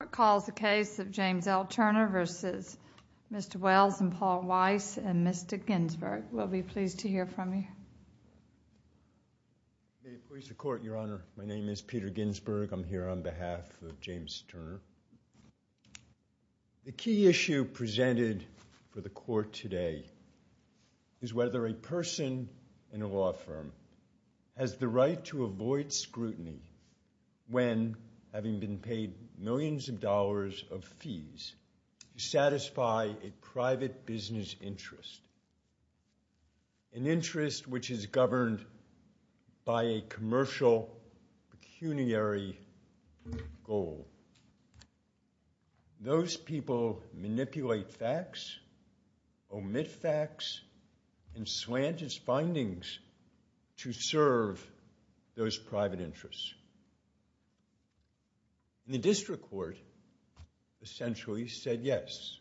recalls the case of James L. Turner v. Mr. Wells and Paul Weiss and Mr. Ginsburg. We'll be pleased to hear from you. May it please the Court, Your Honor. My name is Peter Ginsburg. I'm here on behalf of James Turner. The key issue presented for the Court today is whether a person in a law firm has the right to avoid scrutiny when, having been paid millions of dollars of fees, to satisfy a private business interest, an interest which is governed by a commercial pecuniary goal. Those people manipulate facts, omit facts, and slant its findings to serve those private interests. The district court essentially said yes.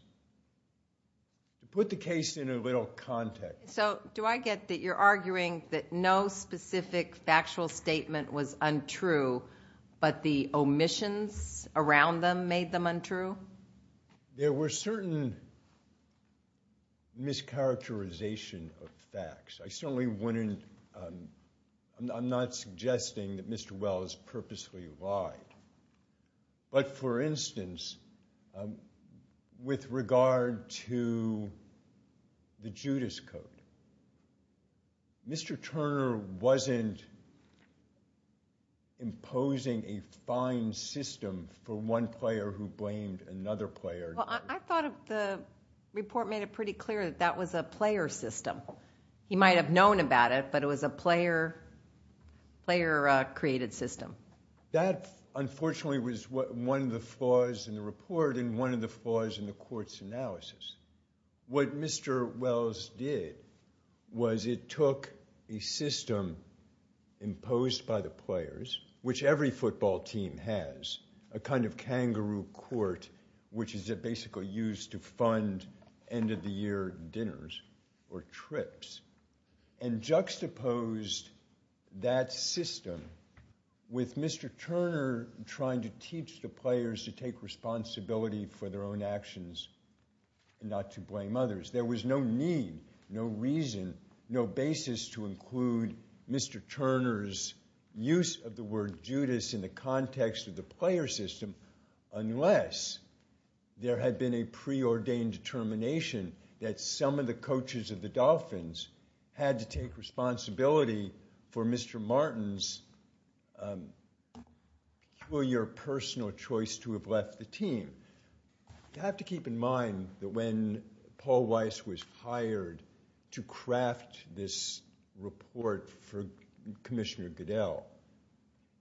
To put the case in a little context. So do I get that you're arguing that no specific factual statement was untrue, but the omissions around them made them untrue? There were certain mischaracterization of facts. I certainly wouldn't, I'm not suggesting that Mr. Wells purposely lied. But for instance, with regard to the Judas Code, Mr. Turner wasn't imposing a fine system for one player who blamed another player. I thought the report made it pretty clear that that was a player system. He might have known about it, but it was a player-created system. That, unfortunately, was one of the flaws in the report and one of the flaws in the Court's analysis. What Mr. Wells did was it took a system imposed by the players, which every football team has, a kind of kangaroo court, which is basically used to fund end-of-the-year dinners or trips, and juxtaposed that system with Mr. Turner trying to teach the players to take responsibility for their own actions and not to blame others. There was no need, no reason, no basis to include Mr. Turner's use of the word Judas in the context of the player system unless there had been a preordained determination that some of the coaches of the Dolphins had to take responsibility for Mr. Martin's peculiar personal choice to have left the team. You have to keep in mind that when Paul Weiss was hired to craft this report for Commissioner Goodell,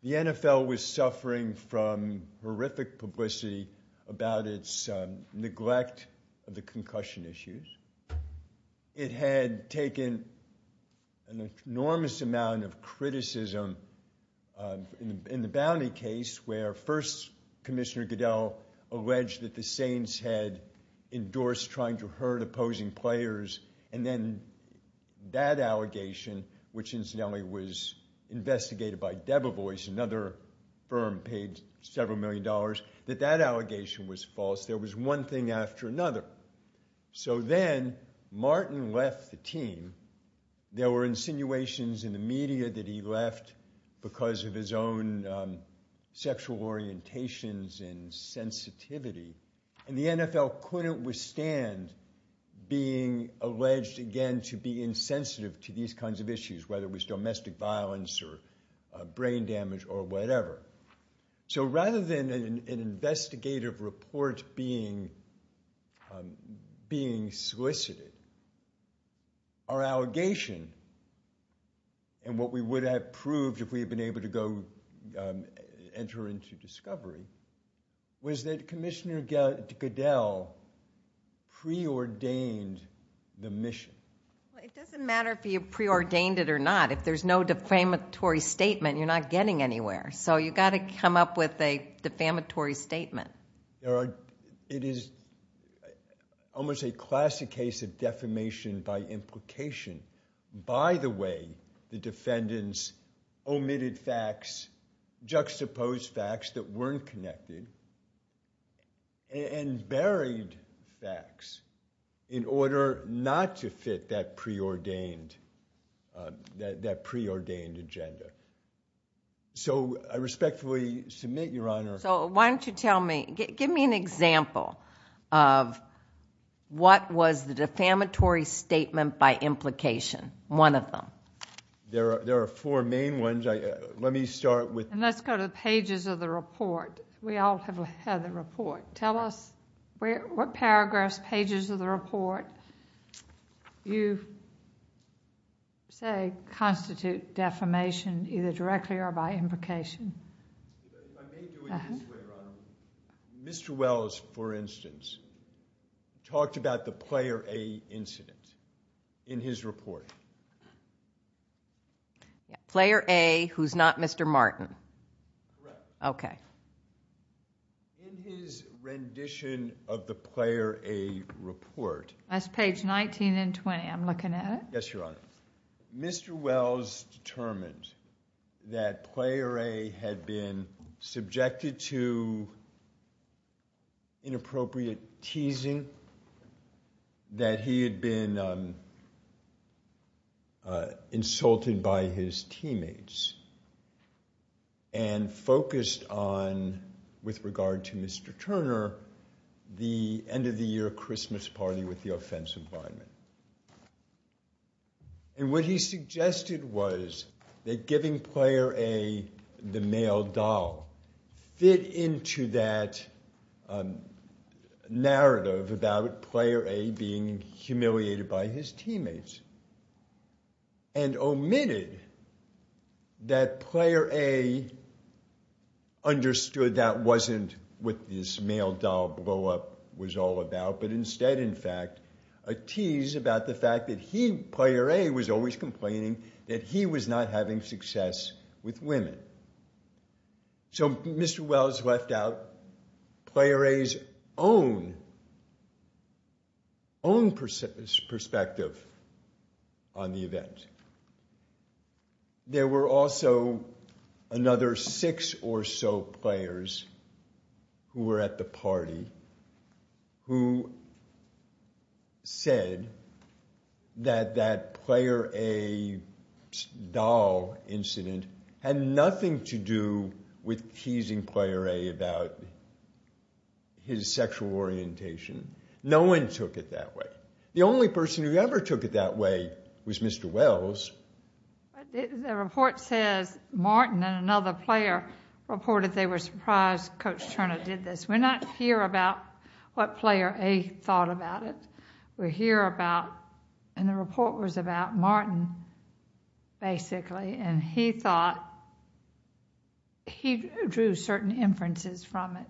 the NFL was suffering from horrific publicity about its neglect of the concussion issues. It had taken an enormous amount of criticism in the bounty case where first Commissioner Goodell alleged that the Saints had endorsed trying to hurt opposing players, and then that allegation, which incidentally was investigated by Debevoise, another firm paid several million dollars, that that allegation was false. There was one thing after another. So then Martin left the team. There were insinuations in the media that he left because of his own sexual orientations and sensitivity, and the NFL couldn't withstand being alleged again to be insensitive to these kinds of issues, whether it was domestic violence or brain damage or whatever. So rather than an investigative report being solicited, our allegation, and what we would have proved if we had been able to go enter into discovery, was that Commissioner Goodell preordained the mission. It doesn't matter if you preordained it or not. If there's no defamatory statement, you're not getting anywhere. So you've got to come up with a defamatory statement. It is almost a classic case of defamation by implication. By the way, the defendants omitted facts, juxtaposed facts that weren't connected, and buried facts in order not to fit that preordained agenda. So I respectfully submit, Your Honor. So why don't you tell me, give me an example of what was the defamatory statement by implication, one of them. There are four main ones. Let me start with. And let's go to the pages of the report. We all have had the report. Tell us what paragraphs, pages of the report you say constitute defamation, either directly or by implication. I may do it this way, Your Honor. Mr. Wells, for instance, talked about the Player A incident in his report. Player A, who's not Mr. Martin. Correct. Okay. In his rendition of the Player A report. That's page 19 and 20. I'm looking at it. Yes, Your Honor. Mr. Wells determined that Player A had been subjected to inappropriate teasing, that he had been insulted by his teammates, and focused on, with regard to Mr. Turner, the end-of-the-year Christmas party with the offensive linemen. And what he suggested was that giving Player A the male doll fit into that narrative about Player A being humiliated by his teammates and omitted that Player A understood that wasn't what this male doll blow-up was all about, but instead, in fact, a tease about the fact that he, Player A, was always complaining that he was not having success with women. So Mr. Wells left out Player A's own perspective on the event. There were also another six or so players who were at the party who said that that Player A doll incident had nothing to do with teasing Player A about his sexual orientation. No one took it that way. The only person who ever took it that way was Mr. Wells. The report says Martin and another player reported they were surprised Coach Turner did this. We're not here about what Player A thought about it. We're here about, and the report was about Martin, basically, and he thought he drew certain inferences from it.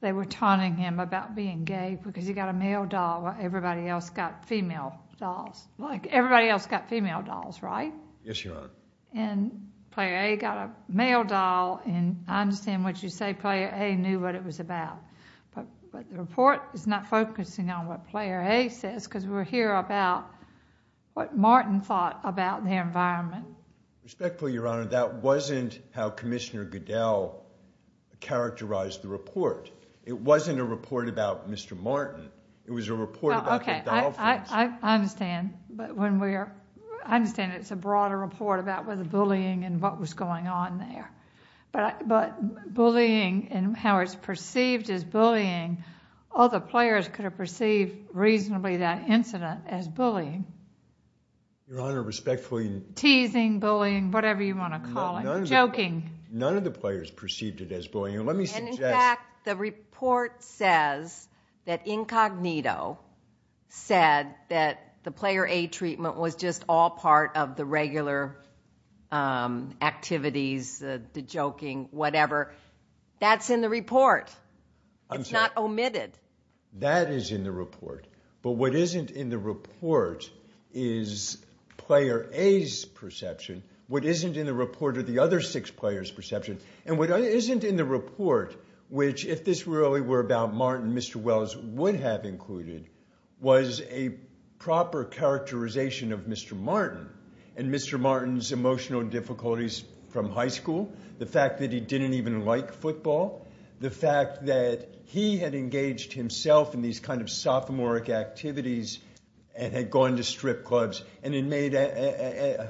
They were taunting him about being gay because he got a male doll while everybody else got female dolls. Like, everybody else got female dolls, right? Yes, Your Honor. And Player A got a male doll. And I understand what you say. Player A knew what it was about. But the report is not focusing on what Player A says because we're here about what Martin thought about their environment. Respectfully, Your Honor, that wasn't how Commissioner Goodell characterized the report. It wasn't a report about Mr. Martin. It was a report about the doll incident. I understand. I understand it's a broader report about the bullying and what was going on there. But bullying and how it's perceived as bullying, all the players could have perceived reasonably that incident as bullying. Your Honor, respectfully. Teasing, bullying, whatever you want to call it. Joking. None of the players perceived it as bullying. Let me suggest. In fact, the report says that Incognito said that the Player A treatment was just all part of the regular activities, the joking, whatever. That's in the report. It's not omitted. That is in the report. But what isn't in the report is Player A's perception. And what isn't in the report, which if this really were about Martin, Mr. Wells would have included, was a proper characterization of Mr. Martin and Mr. Martin's emotional difficulties from high school, the fact that he didn't even like football, the fact that he had engaged himself in these kind of sophomoric activities and had gone to strip clubs and had made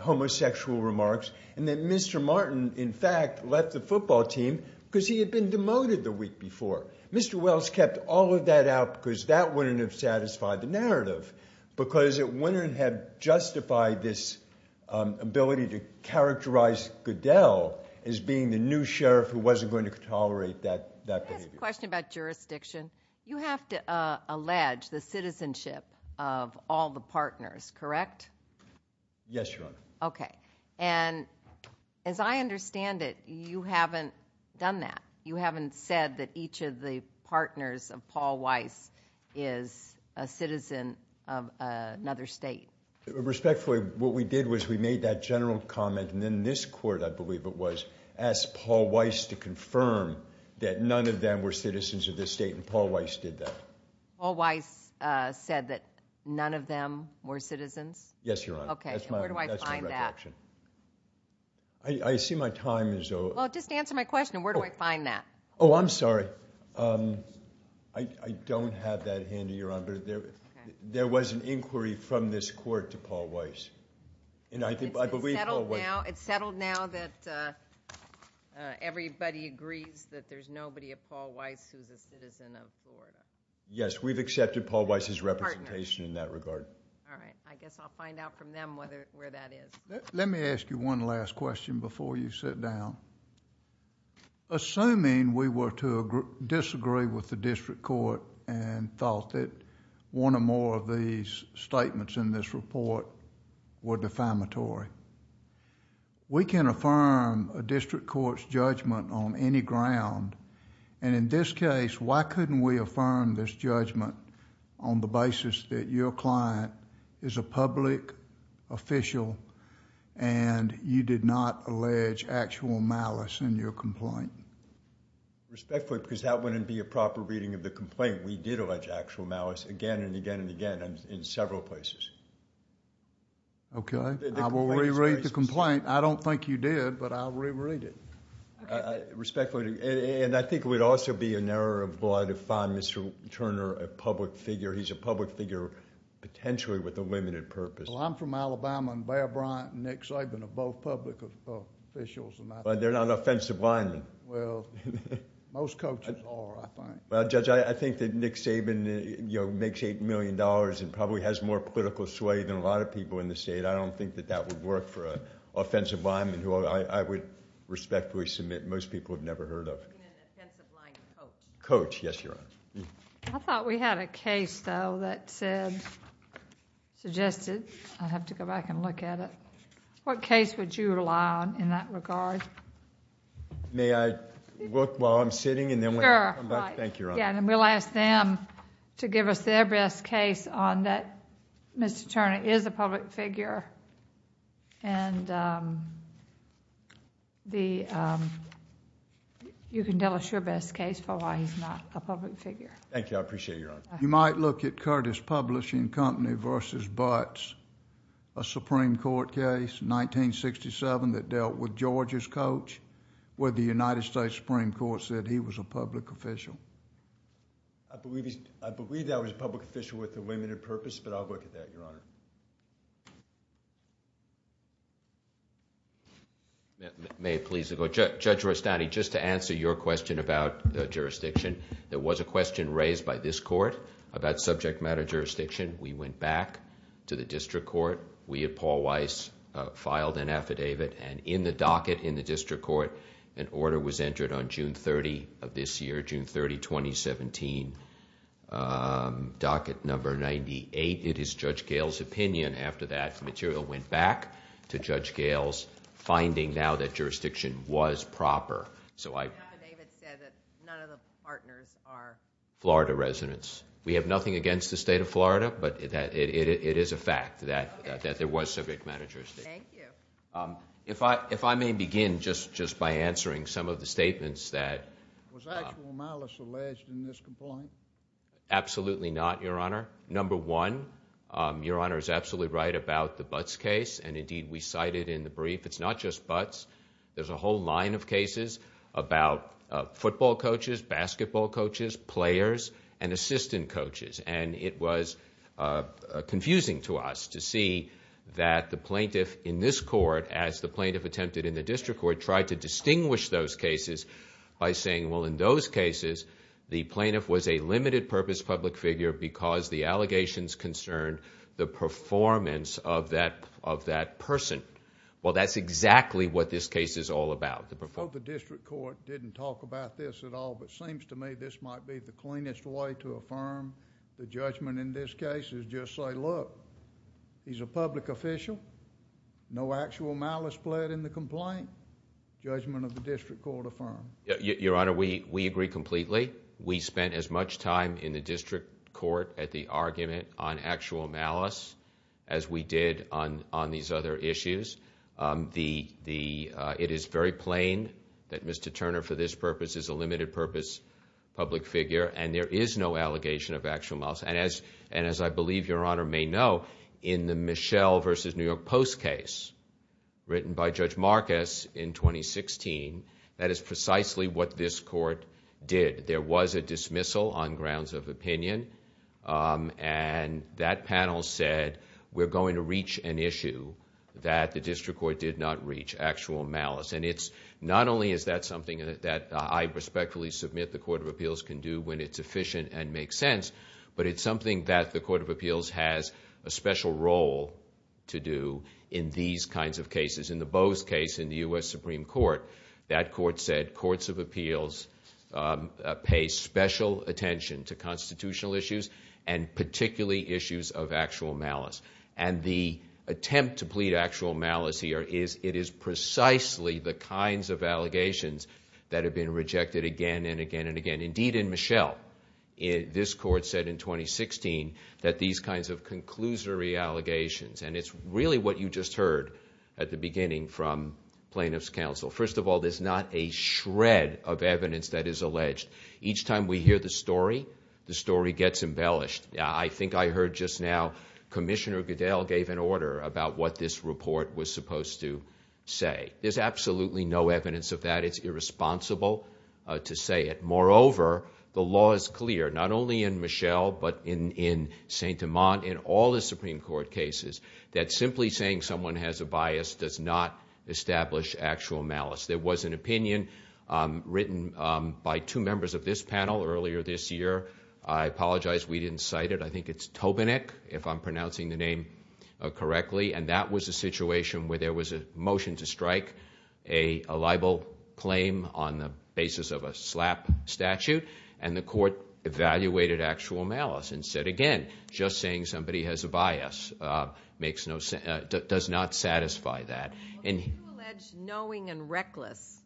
homosexual remarks, and that Mr. Martin, in fact, left the football team because he had been demoted the week before. Mr. Wells kept all of that out because that wouldn't have satisfied the narrative, because it wouldn't have justified this ability to characterize Goodell as being the new sheriff who wasn't going to tolerate that behavior. I have a question about jurisdiction. You have to allege the citizenship of all the partners, correct? Yes, Your Honor. Okay. And as I understand it, you haven't done that. You haven't said that each of the partners of Paul Weiss is a citizen of another state. Respectfully, what we did was we made that general comment, and then this court, I believe it was, asked Paul Weiss to confirm that none of them were citizens of this state, and Paul Weiss did that. Yes, Your Honor. Okay, and where do I find that? That's my recollection. I see my time is over. Well, just answer my question. Where do I find that? Oh, I'm sorry. I don't have that handy, Your Honor. There was an inquiry from this court to Paul Weiss. It's settled now that everybody agrees that there's nobody at Paul Weiss who's a citizen of Florida? Yes, we've accepted Paul Weiss's representation in that regard. All right. I guess I'll find out from them where that is. Let me ask you one last question before you sit down. Assuming we were to disagree with the district court and thought that one or more of these statements in this report were defamatory, we can affirm a district court's judgment on any ground, and in this case, why couldn't we affirm this judgment on the basis that your client is a public official and you did not allege actual malice in your complaint? Respectfully, because that wouldn't be a proper reading of the complaint. We did allege actual malice again and again and again in several places. Okay. I will reread the complaint. I don't think you did, but I'll reread it. Respectfully, and I think it would also be in error of law to find Mr. Turner a public figure. He's a public figure potentially with a limited purpose. Well, I'm from Alabama, and Bear Bryant and Nick Saban are both public officials. But they're not offensive linemen. Well, most coaches are, I think. Well, Judge, I think that Nick Saban makes $8 million and probably has more political sway than a lot of people in the state. I don't think that that would work for an offensive lineman who I would respectfully submit most people have never heard of. He's an offensive lineman coach. Coach, yes, Your Honor. I thought we had a case, though, that said, suggested. I'll have to go back and look at it. What case would you rely on in that regard? May I look while I'm sitting? Sure. Thank you, Your Honor. Then we'll ask them to give us their best case on that Mr. Turner is a public figure. And you can tell us your best case for why he's not a public figure. Thank you. I appreciate it, Your Honor. You might look at Curtis Publishing Company versus Butts, a Supreme Court case in 1967 that dealt with George's coach, where the United States Supreme Court said he was a public official. I believe that was a public official with a limited purpose, but I'll look at that, Your Honor. May it please the Court. Judge Rustati, just to answer your question about the jurisdiction, there was a question raised by this court about subject matter jurisdiction. We went back to the district court. We at Paul Weiss filed an affidavit, and in the docket in the district court, an order was entered on June 30 of this year, June 30, 2017. Docket number 98. It is Judge Gale's opinion. After that, the material went back to Judge Gale's finding now that jurisdiction was proper. So I... The affidavit said that none of the partners are... Florida residents. We have nothing against the State of Florida, but it is a fact that there was subject matter jurisdiction. Thank you. If I may begin just by answering some of the statements that... Absolutely not, Your Honor. Number one, Your Honor is absolutely right about the Butts case, and indeed we cited in the brief. It's not just Butts. There's a whole line of cases about football coaches, basketball coaches, players, and assistant coaches. And it was confusing to us to see that the plaintiff in this court, as the plaintiff attempted in the district court, tried to distinguish those cases by saying, well, in those cases, the plaintiff was a limited purpose public figure because the allegations concerned the performance of that person. Well, that's exactly what this case is all about, the performance. Well, the district court didn't talk about this at all, but it seems to me this might be the cleanest way to affirm the judgment in this case is just say, look, he's a public official, no actual malice pled in the complaint. Judgment of the district court affirmed. Your Honor, we agree completely. We spent as much time in the district court at the argument on actual malice as we did on these other issues. It is very plain that Mr. Turner, for this purpose, is a limited purpose public figure, and there is no allegation of actual malice. And as I believe Your Honor may know, in the Michelle versus New York Post case written by Judge Marcus in 2016, that is precisely what this court did. There was a dismissal on grounds of opinion, and that panel said we're going to reach an issue that the district court did not reach, actual malice. And not only is that something that I respectfully submit the Court of Appeals can do when it's efficient and makes sense, but it's something that the Court of Appeals has a special role to do in these kinds of cases. In the Bose case in the U.S. Supreme Court, that court said, Courts of Appeals pay special attention to constitutional issues and particularly issues of actual malice. And the attempt to plead actual malice here is it is precisely the kinds of allegations that have been rejected again and again and again. Indeed, in Michelle, this court said in 2016 that these kinds of conclusory allegations, and it's really what you just heard at the beginning from plaintiffs' counsel. First of all, there's not a shred of evidence that is alleged. Each time we hear the story, the story gets embellished. I think I heard just now Commissioner Goodell gave an order about what this report was supposed to say. There's absolutely no evidence of that. It's irresponsible to say it. Moreover, the law is clear, not only in Michelle, but in St. Amand, in all the Supreme Court cases, that simply saying someone has a bias does not establish actual malice. There was an opinion written by two members of this panel earlier this year. I apologize we didn't cite it. I think it's Tobinick, if I'm pronouncing the name correctly, and that was a situation where there was a motion to strike a libel claim on the basis of a slap statute, and the court evaluated actual malice and said, again, just saying somebody has a bias does not satisfy that. Well, they do allege knowing and reckless.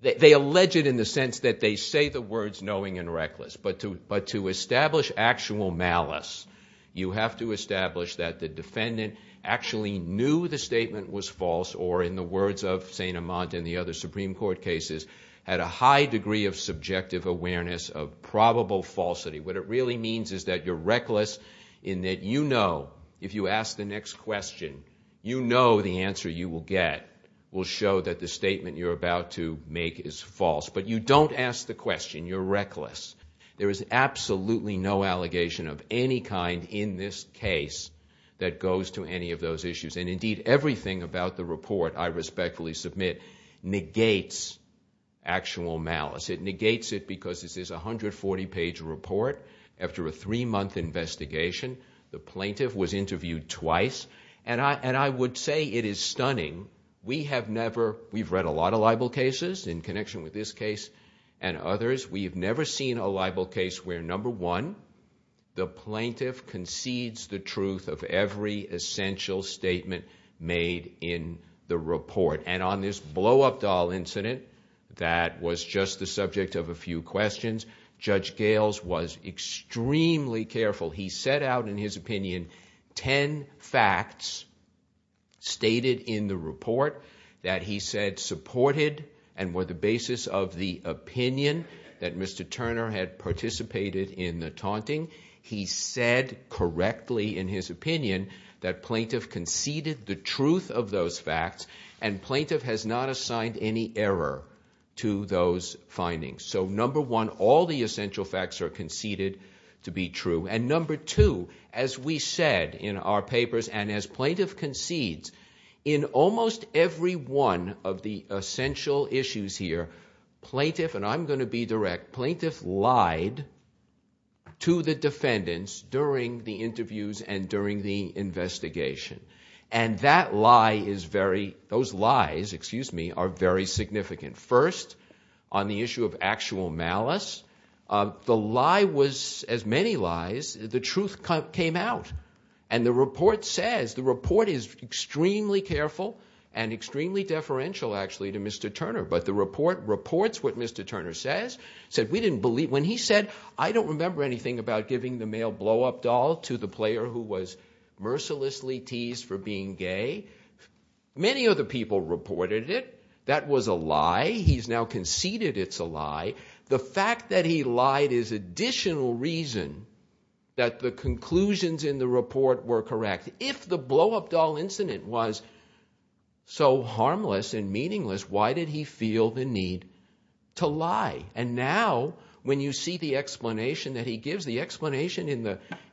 They allege it in the sense that they say the words knowing and reckless, but to establish actual malice, you have to establish that the defendant actually knew the statement was false, or in the words of St. Amand and the other Supreme Court cases, had a high degree of subjective awareness of probable falsity. What it really means is that you're reckless in that you know, if you ask the next question, you know the answer you will get will show that the statement you're about to make is false. But you don't ask the question. You're reckless. There is absolutely no allegation of any kind in this case that goes to any of those issues, and indeed everything about the report, I respectfully submit, negates actual malice. It negates it because this is a 140-page report. After a three-month investigation, the plaintiff was interviewed twice, and I would say it is stunning. We have never, we've read a lot of libel cases in connection with this case and others, we have never seen a libel case where, number one, the plaintiff concedes the truth of every essential statement made in the report. And on this blow-up doll incident that was just the subject of a few questions, Judge Gales was extremely careful. He set out in his opinion ten facts stated in the report that he said supported and were the basis of the opinion that Mr. Turner had participated in the taunting. He said correctly in his opinion that plaintiff conceded the truth of those facts and plaintiff has not assigned any error to those findings. So, number one, all the essential facts are conceded to be true. And number two, as we said in our papers and as plaintiff concedes, in almost every one of the essential issues here, plaintiff, and I'm going to be direct, plaintiff lied to the defendants during the interviews and during the investigation. And that lie is very, those lies, excuse me, are very significant. First, on the issue of actual malice, the lie was, as many lies, the truth came out. And the report says, the report is extremely careful and extremely deferential actually to Mr. Turner. But the report reports what Mr. Turner says. He said, we didn't believe, when he said, I don't remember anything about giving the male blow-up doll to the player who was mercilessly teased for being gay. Many of the people reported it. That was a lie. He's now conceded it's a lie. The fact that he lied is additional reason that the conclusions in the report were correct. If the blow-up doll incident was so harmless and meaningless, why did he feel the need to lie? And now, when you see the explanation that he gives, the explanation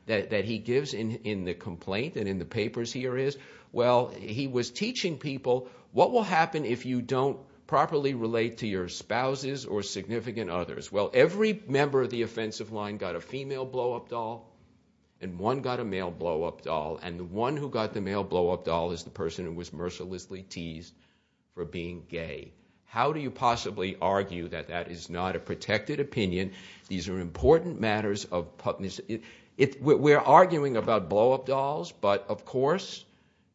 that he gives in the complaint and in the papers here is, well, he was teaching people, what will happen if you don't properly relate to your spouses or significant others? Well, every member of the offensive line got a female blow-up doll and one got a male blow-up doll, and the one who got the male blow-up doll is the person who was mercilessly teased for being gay. How do you possibly argue that that is not a protected opinion? These are important matters. We're arguing about blow-up dolls, but, of course,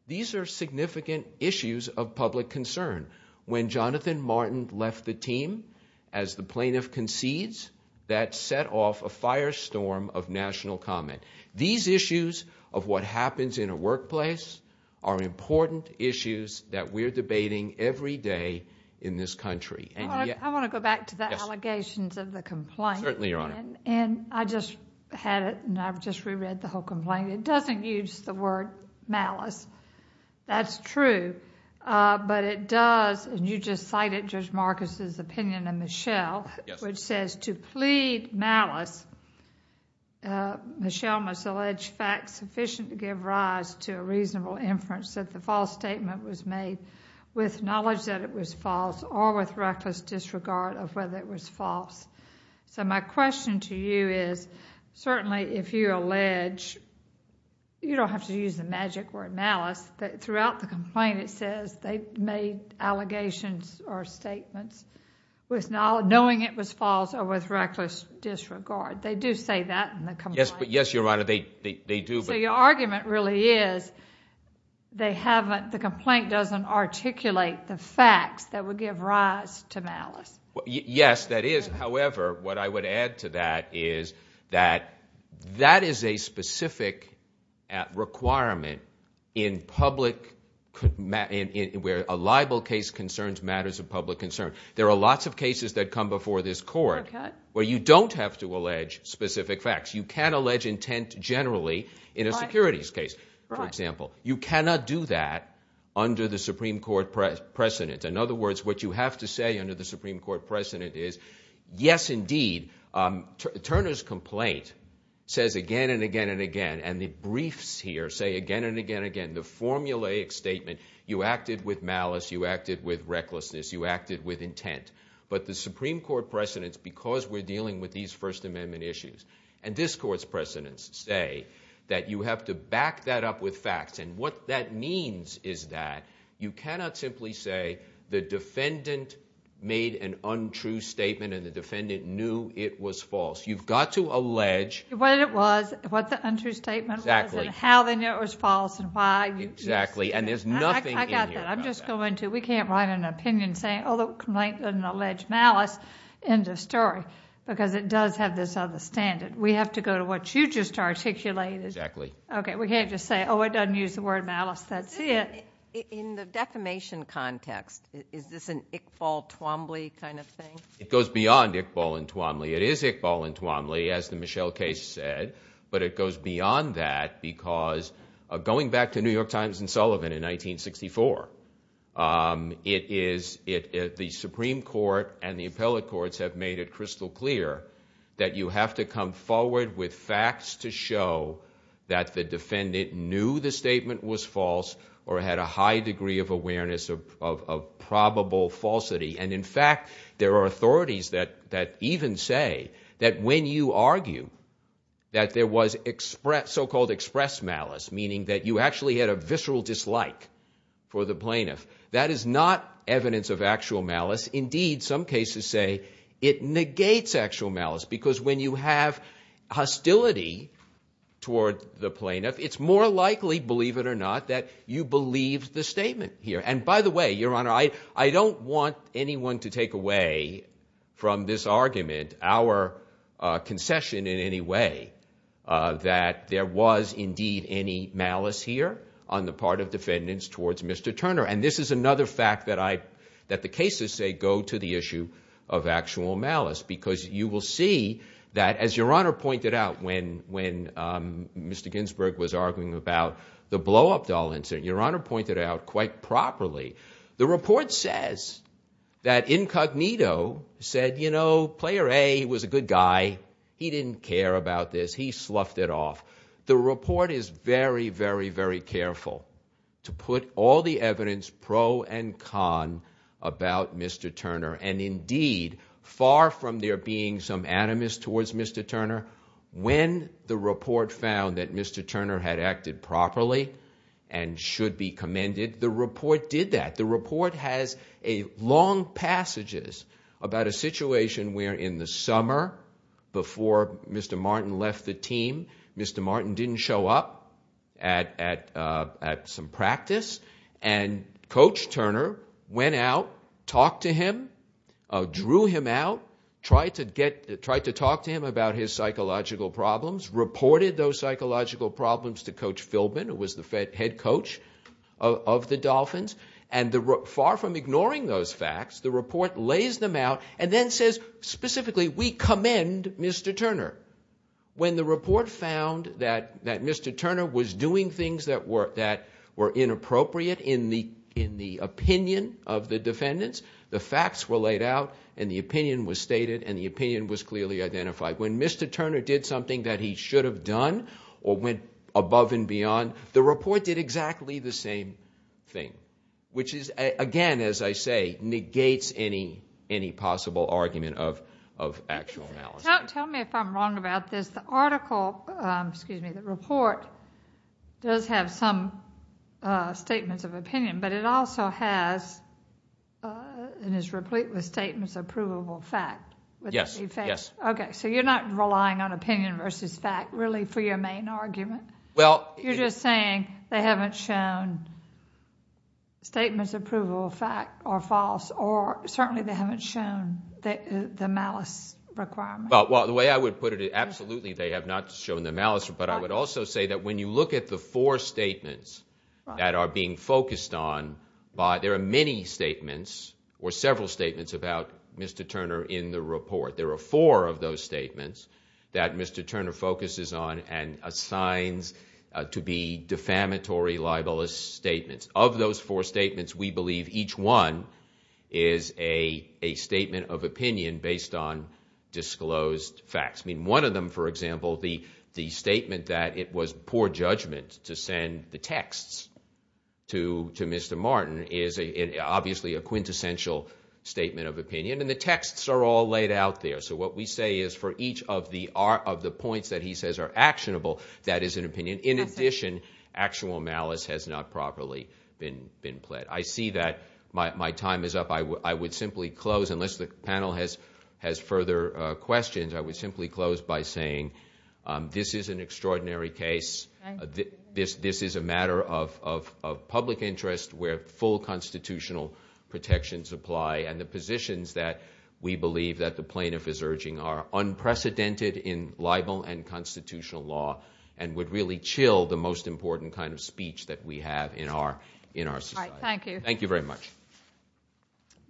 these are significant issues of public concern. When Jonathan Martin left the team as the plaintiff concedes, that set off a firestorm of national comment. These issues of what happens in a workplace are important issues that we're debating every day in this country. I want to go back to the allegations of the complaint. Certainly, Your Honor. And I just had it, and I've just reread the whole complaint. It doesn't use the word malice. That's true. But it does, and you just cited Judge Marcus' opinion and Michelle, which says, to plead malice, Michelle must allege facts sufficient to give rise to a reasonable inference that the false statement was made with knowledge that it was false or with reckless disregard of whether it was false. So my question to you is, certainly if you allege, you don't have to use the magic word malice, but throughout the complaint it says they made allegations or statements knowing it was false or with reckless disregard. They do say that in the complaint. Yes, Your Honor, they do. So your argument really is the complaint doesn't articulate the facts that would give rise to malice. Yes, that is. However, what I would add to that is that that is a specific requirement in public where a libel case concerns matters of public concern. There are lots of cases that come before this court where you don't have to allege specific facts. You can allege intent generally in a securities case, for example. You cannot do that under the Supreme Court precedent. In other words, what you have to say under the Supreme Court precedent is, yes, indeed, Turner's complaint says again and again and again, and the briefs here say again and again and again, the formulaic statement you acted with malice, you acted with recklessness, you acted with intent. But the Supreme Court precedent, because we're dealing with these First Amendment issues and this court's precedents say that you have to back that up with facts, and what that means is that you cannot simply say the defendant made an untrue statement and the defendant knew it was false. You've got to allege. What it was, what the untrue statement was and how they knew it was false and why. Exactly, and there's nothing in here about that. I got that. I'm just going to. We can't write an opinion saying, oh, the complaint doesn't allege malice, end of story, because it does have this other standard. We have to go to what you just articulated. Exactly. Okay, we can't just say, oh, it doesn't use the word malice, that's it. In the defamation context, is this an Iqbal-Twombly kind of thing? It goes beyond Iqbal and Twombly. It is Iqbal and Twombly, as the Michelle case said, but it goes beyond that because going back to New York Times and Sullivan in 1964, the Supreme Court and the appellate courts have made it crystal clear that you have to come forward with facts to show that the defendant knew the statement was false or had a high degree of awareness of probable falsity. And, in fact, there are authorities that even say that when you argue that there was so-called express malice, meaning that you actually had a visceral dislike for the plaintiff, that is not evidence of actual malice. Indeed, some cases say it negates actual malice because when you have hostility toward the plaintiff, it's more likely, believe it or not, that you believed the statement here. And, by the way, Your Honor, I don't want anyone to take away from this argument, our concession in any way, that there was indeed any malice here on the part of defendants towards Mr. Turner. And this is another fact that the cases say go to the issue of actual malice because you will see that, as Your Honor pointed out when Mr. Ginsburg was arguing about the blow-up doll incident, Your Honor pointed out quite properly, the report says that Incognito said, you know, Player A was a good guy. He didn't care about this. He sloughed it off. The report is very, very, very careful to put all the evidence, pro and con, about Mr. Turner. And, indeed, far from there being some animus towards Mr. Turner, when the report found that Mr. Turner had acted properly and should be commended, the report did that. The report has long passages about a situation where in the summer before Mr. Martin left the team, Mr. Martin didn't show up at some practice, and Coach Turner went out, talked to him, drew him out, tried to talk to him about his psychological problems, reported those psychological problems to Coach Philbin, who was the head coach of the Dolphins, and far from ignoring those facts, the report lays them out and then says specifically, we commend Mr. Turner. When the report found that Mr. Turner was doing things that were inappropriate in the opinion of the defendants, the facts were laid out and the opinion was stated and the opinion was clearly identified. When Mr. Turner did something that he should have done or went above and beyond, the report did exactly the same thing, which is, again, as I say, negates any possible argument of actual malice. Tell me if I'm wrong about this. The article, excuse me, the report does have some statements of opinion, but it also has and is replete with statements of provable fact. Yes. Okay, so you're not relying on opinion versus fact really for your main argument? You're just saying they haven't shown statements of provable fact are false or certainly they haven't shown the malice requirement. Well, the way I would put it, absolutely they have not shown the malice, but I would also say that when you look at the four statements that are being focused on, there are many statements or several statements about Mr. Turner in the report. There are four of those statements that Mr. Turner focuses on and assigns to be defamatory libelous statements. Of those four statements, we believe each one is a statement of opinion based on disclosed facts. I mean, one of them, for example, the statement that it was poor judgment to send the texts to Mr. Martin is obviously a quintessential statement of opinion, and the texts are all laid out there. So what we say is for each of the points that he says are actionable, that is an opinion. In addition, actual malice has not properly been pled. I see that my time is up. I would simply close, unless the panel has further questions, I would simply close by saying this is an extraordinary case. This is a matter of public interest where full constitutional protections apply, and the positions that we believe that the plaintiff is urging are unprecedented in libel and constitutional law and would really chill the most important kind of speech that we have in our society. All right, thank you. Thank you very much.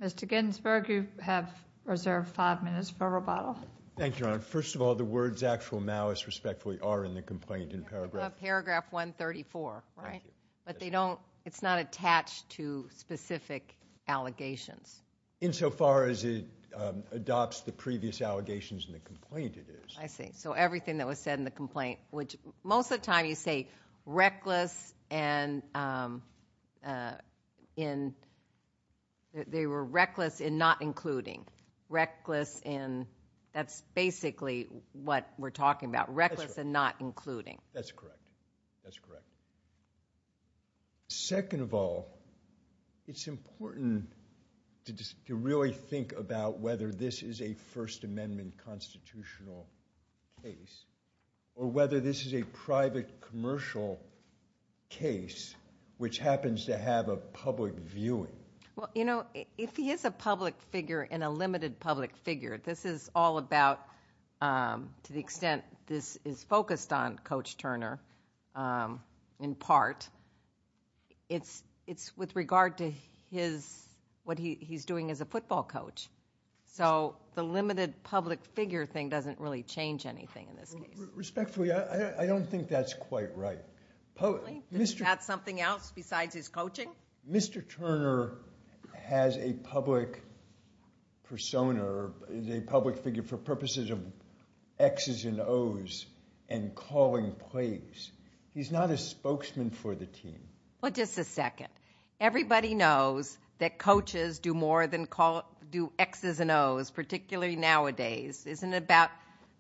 Mr. Ginsburg, you have reserved five minutes for rebuttal. Thank you, Your Honor. First of all, the words actual malice, respectfully, are in the complaint in paragraph 134, right? But they don't, it's not attached to specific allegations. Insofar as it adopts the previous allegations in the complaint, it is. I see. So everything that was said in the complaint, which most of the time you say reckless and in, they were reckless in not including. Reckless in, that's basically what we're talking about, reckless and not including. That's correct. That's correct. Second of all, it's important to really think about whether this is a First Amendment constitutional case or whether this is a private commercial case which happens to have a public viewing. Well, you know, if he is a public figure and a limited public figure, this is all about, to the extent this is focused on Coach Turner in part, it's with regard to his, what he's doing as a football coach. So the limited public figure thing doesn't really change anything in this case. Respectfully, I don't think that's quite right. Really? Is that something else besides his coaching? Mr. Turner has a public persona, is a public figure for purposes of X's and O's and calling plays. He's not a spokesman for the team. Well, just a second. Everybody knows that coaches do more than do X's and O's, particularly nowadays. Isn't it about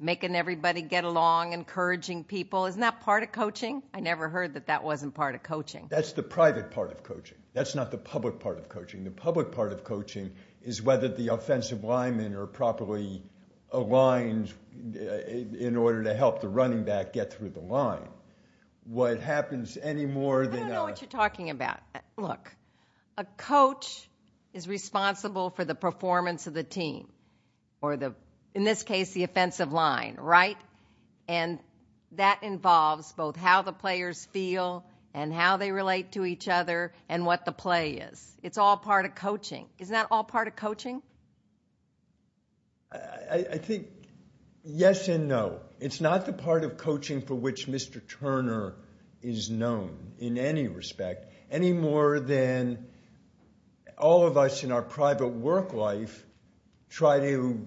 making everybody get along, encouraging people? Isn't that part of coaching? I never heard that that wasn't part of coaching. That's the private part of coaching. That's not the public part of coaching. The public part of coaching is whether the offensive linemen are properly aligned in order to help the running back get through the line. I don't know what you're talking about. Look, a coach is responsible for the performance of the team or, in this case, the offensive line, right? And that involves both how the players feel and how they relate to each other and what the play is. It's all part of coaching. Isn't that all part of coaching? I think yes and no. It's not the part of coaching for which Mr. Turner is known in any respect, any more than all of us in our private work life try to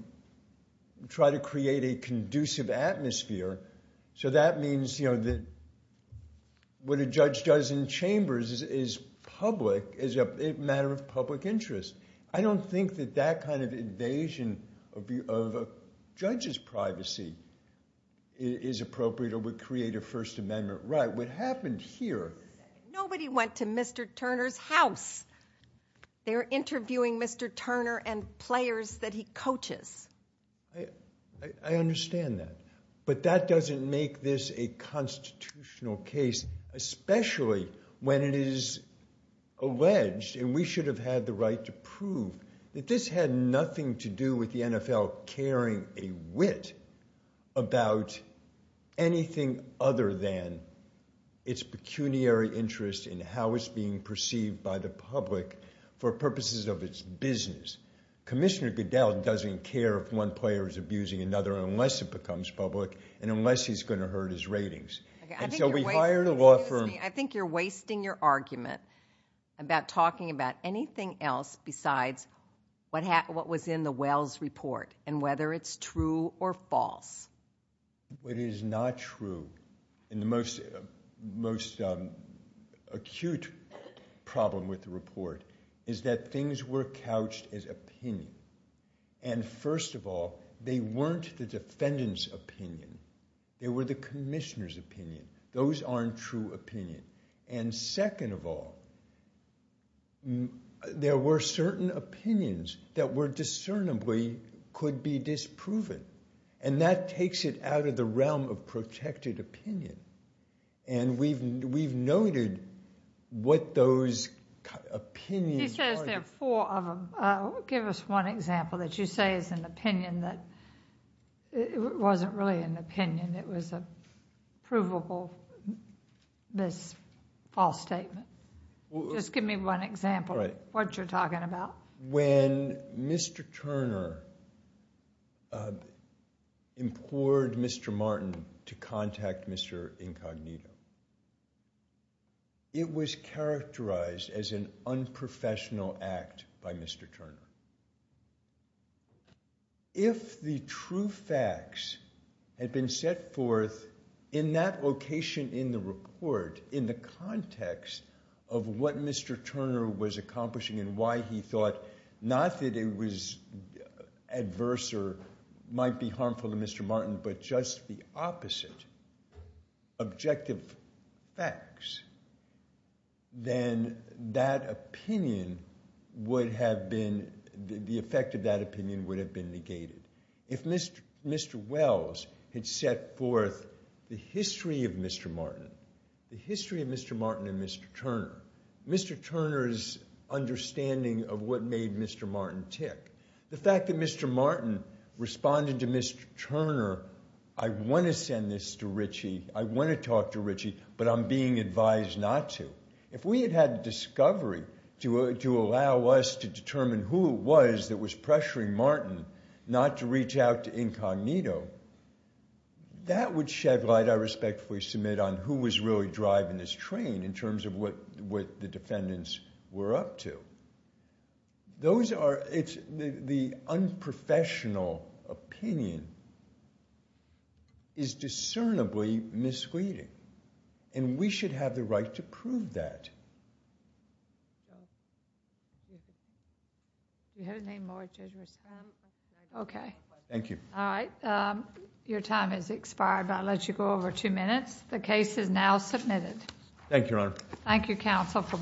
create a conducive atmosphere. So that means that what a judge does in chambers is public, is a matter of public interest. I don't think that that kind of invasion of a judge's privacy is appropriate or would create a First Amendment right. What happened here… Nobody went to Mr. Turner's house. They're interviewing Mr. Turner and players that he coaches. I understand that. But that doesn't make this a constitutional case, especially when it is alleged, and we should have had the right to prove, that this had nothing to do with the NFL carrying a wit about anything other than its pecuniary interest in how it's being perceived by the public for purposes of its business. Commissioner Goodell doesn't care if one player is abusing another unless it becomes public and unless he's going to hurt his ratings. I think you're wasting your argument about talking about anything else besides what was in the Wells report and whether it's true or false. What is not true in the most acute problem with the report is that things were couched as opinion. And first of all, they weren't the defendant's opinion. They were the commissioner's opinion. Those aren't true opinion. And second of all, there were certain opinions that were discernibly could be disproven. And that takes it out of the realm of protected opinion. And we've noted what those opinions are. He says there are four of them. Give us one example that you say is an opinion that wasn't really an opinion. It was a provable, this false statement. Just give me one example of what you're talking about. When Mr. Turner implored Mr. Martin to contact Mr. Incognito, it was characterized as an unprofessional act by Mr. Turner. If the true facts had been set forth in that location in the report, in the context of what Mr. Turner was accomplishing and why he thought not that it was adverse or might be harmful to Mr. Martin, but just the opposite, objective facts, then that opinion would have been, the effect of that opinion would have been negated. If Mr. Wells had set forth the history of Mr. Martin, the history of Mr. Martin and Mr. Turner, Mr. Turner's understanding of what made Mr. Martin tick, the fact that Mr. Martin responded to Mr. Turner, I want to send this to Ritchie, I want to talk to Ritchie, but I'm being advised not to. If we had had discovery to allow us to determine who it was that was pressuring Martin not to reach out to Incognito, that would shed light, I respectfully submit, on who was really driving this train in terms of what the defendants were up to. Those are, it's, the unprofessional opinion is discernibly misleading and we should have the right to prove that. Thank you. Alright, your time has expired but I'll let you go over two minutes. The case is now submitted. Thank you, Your Honor.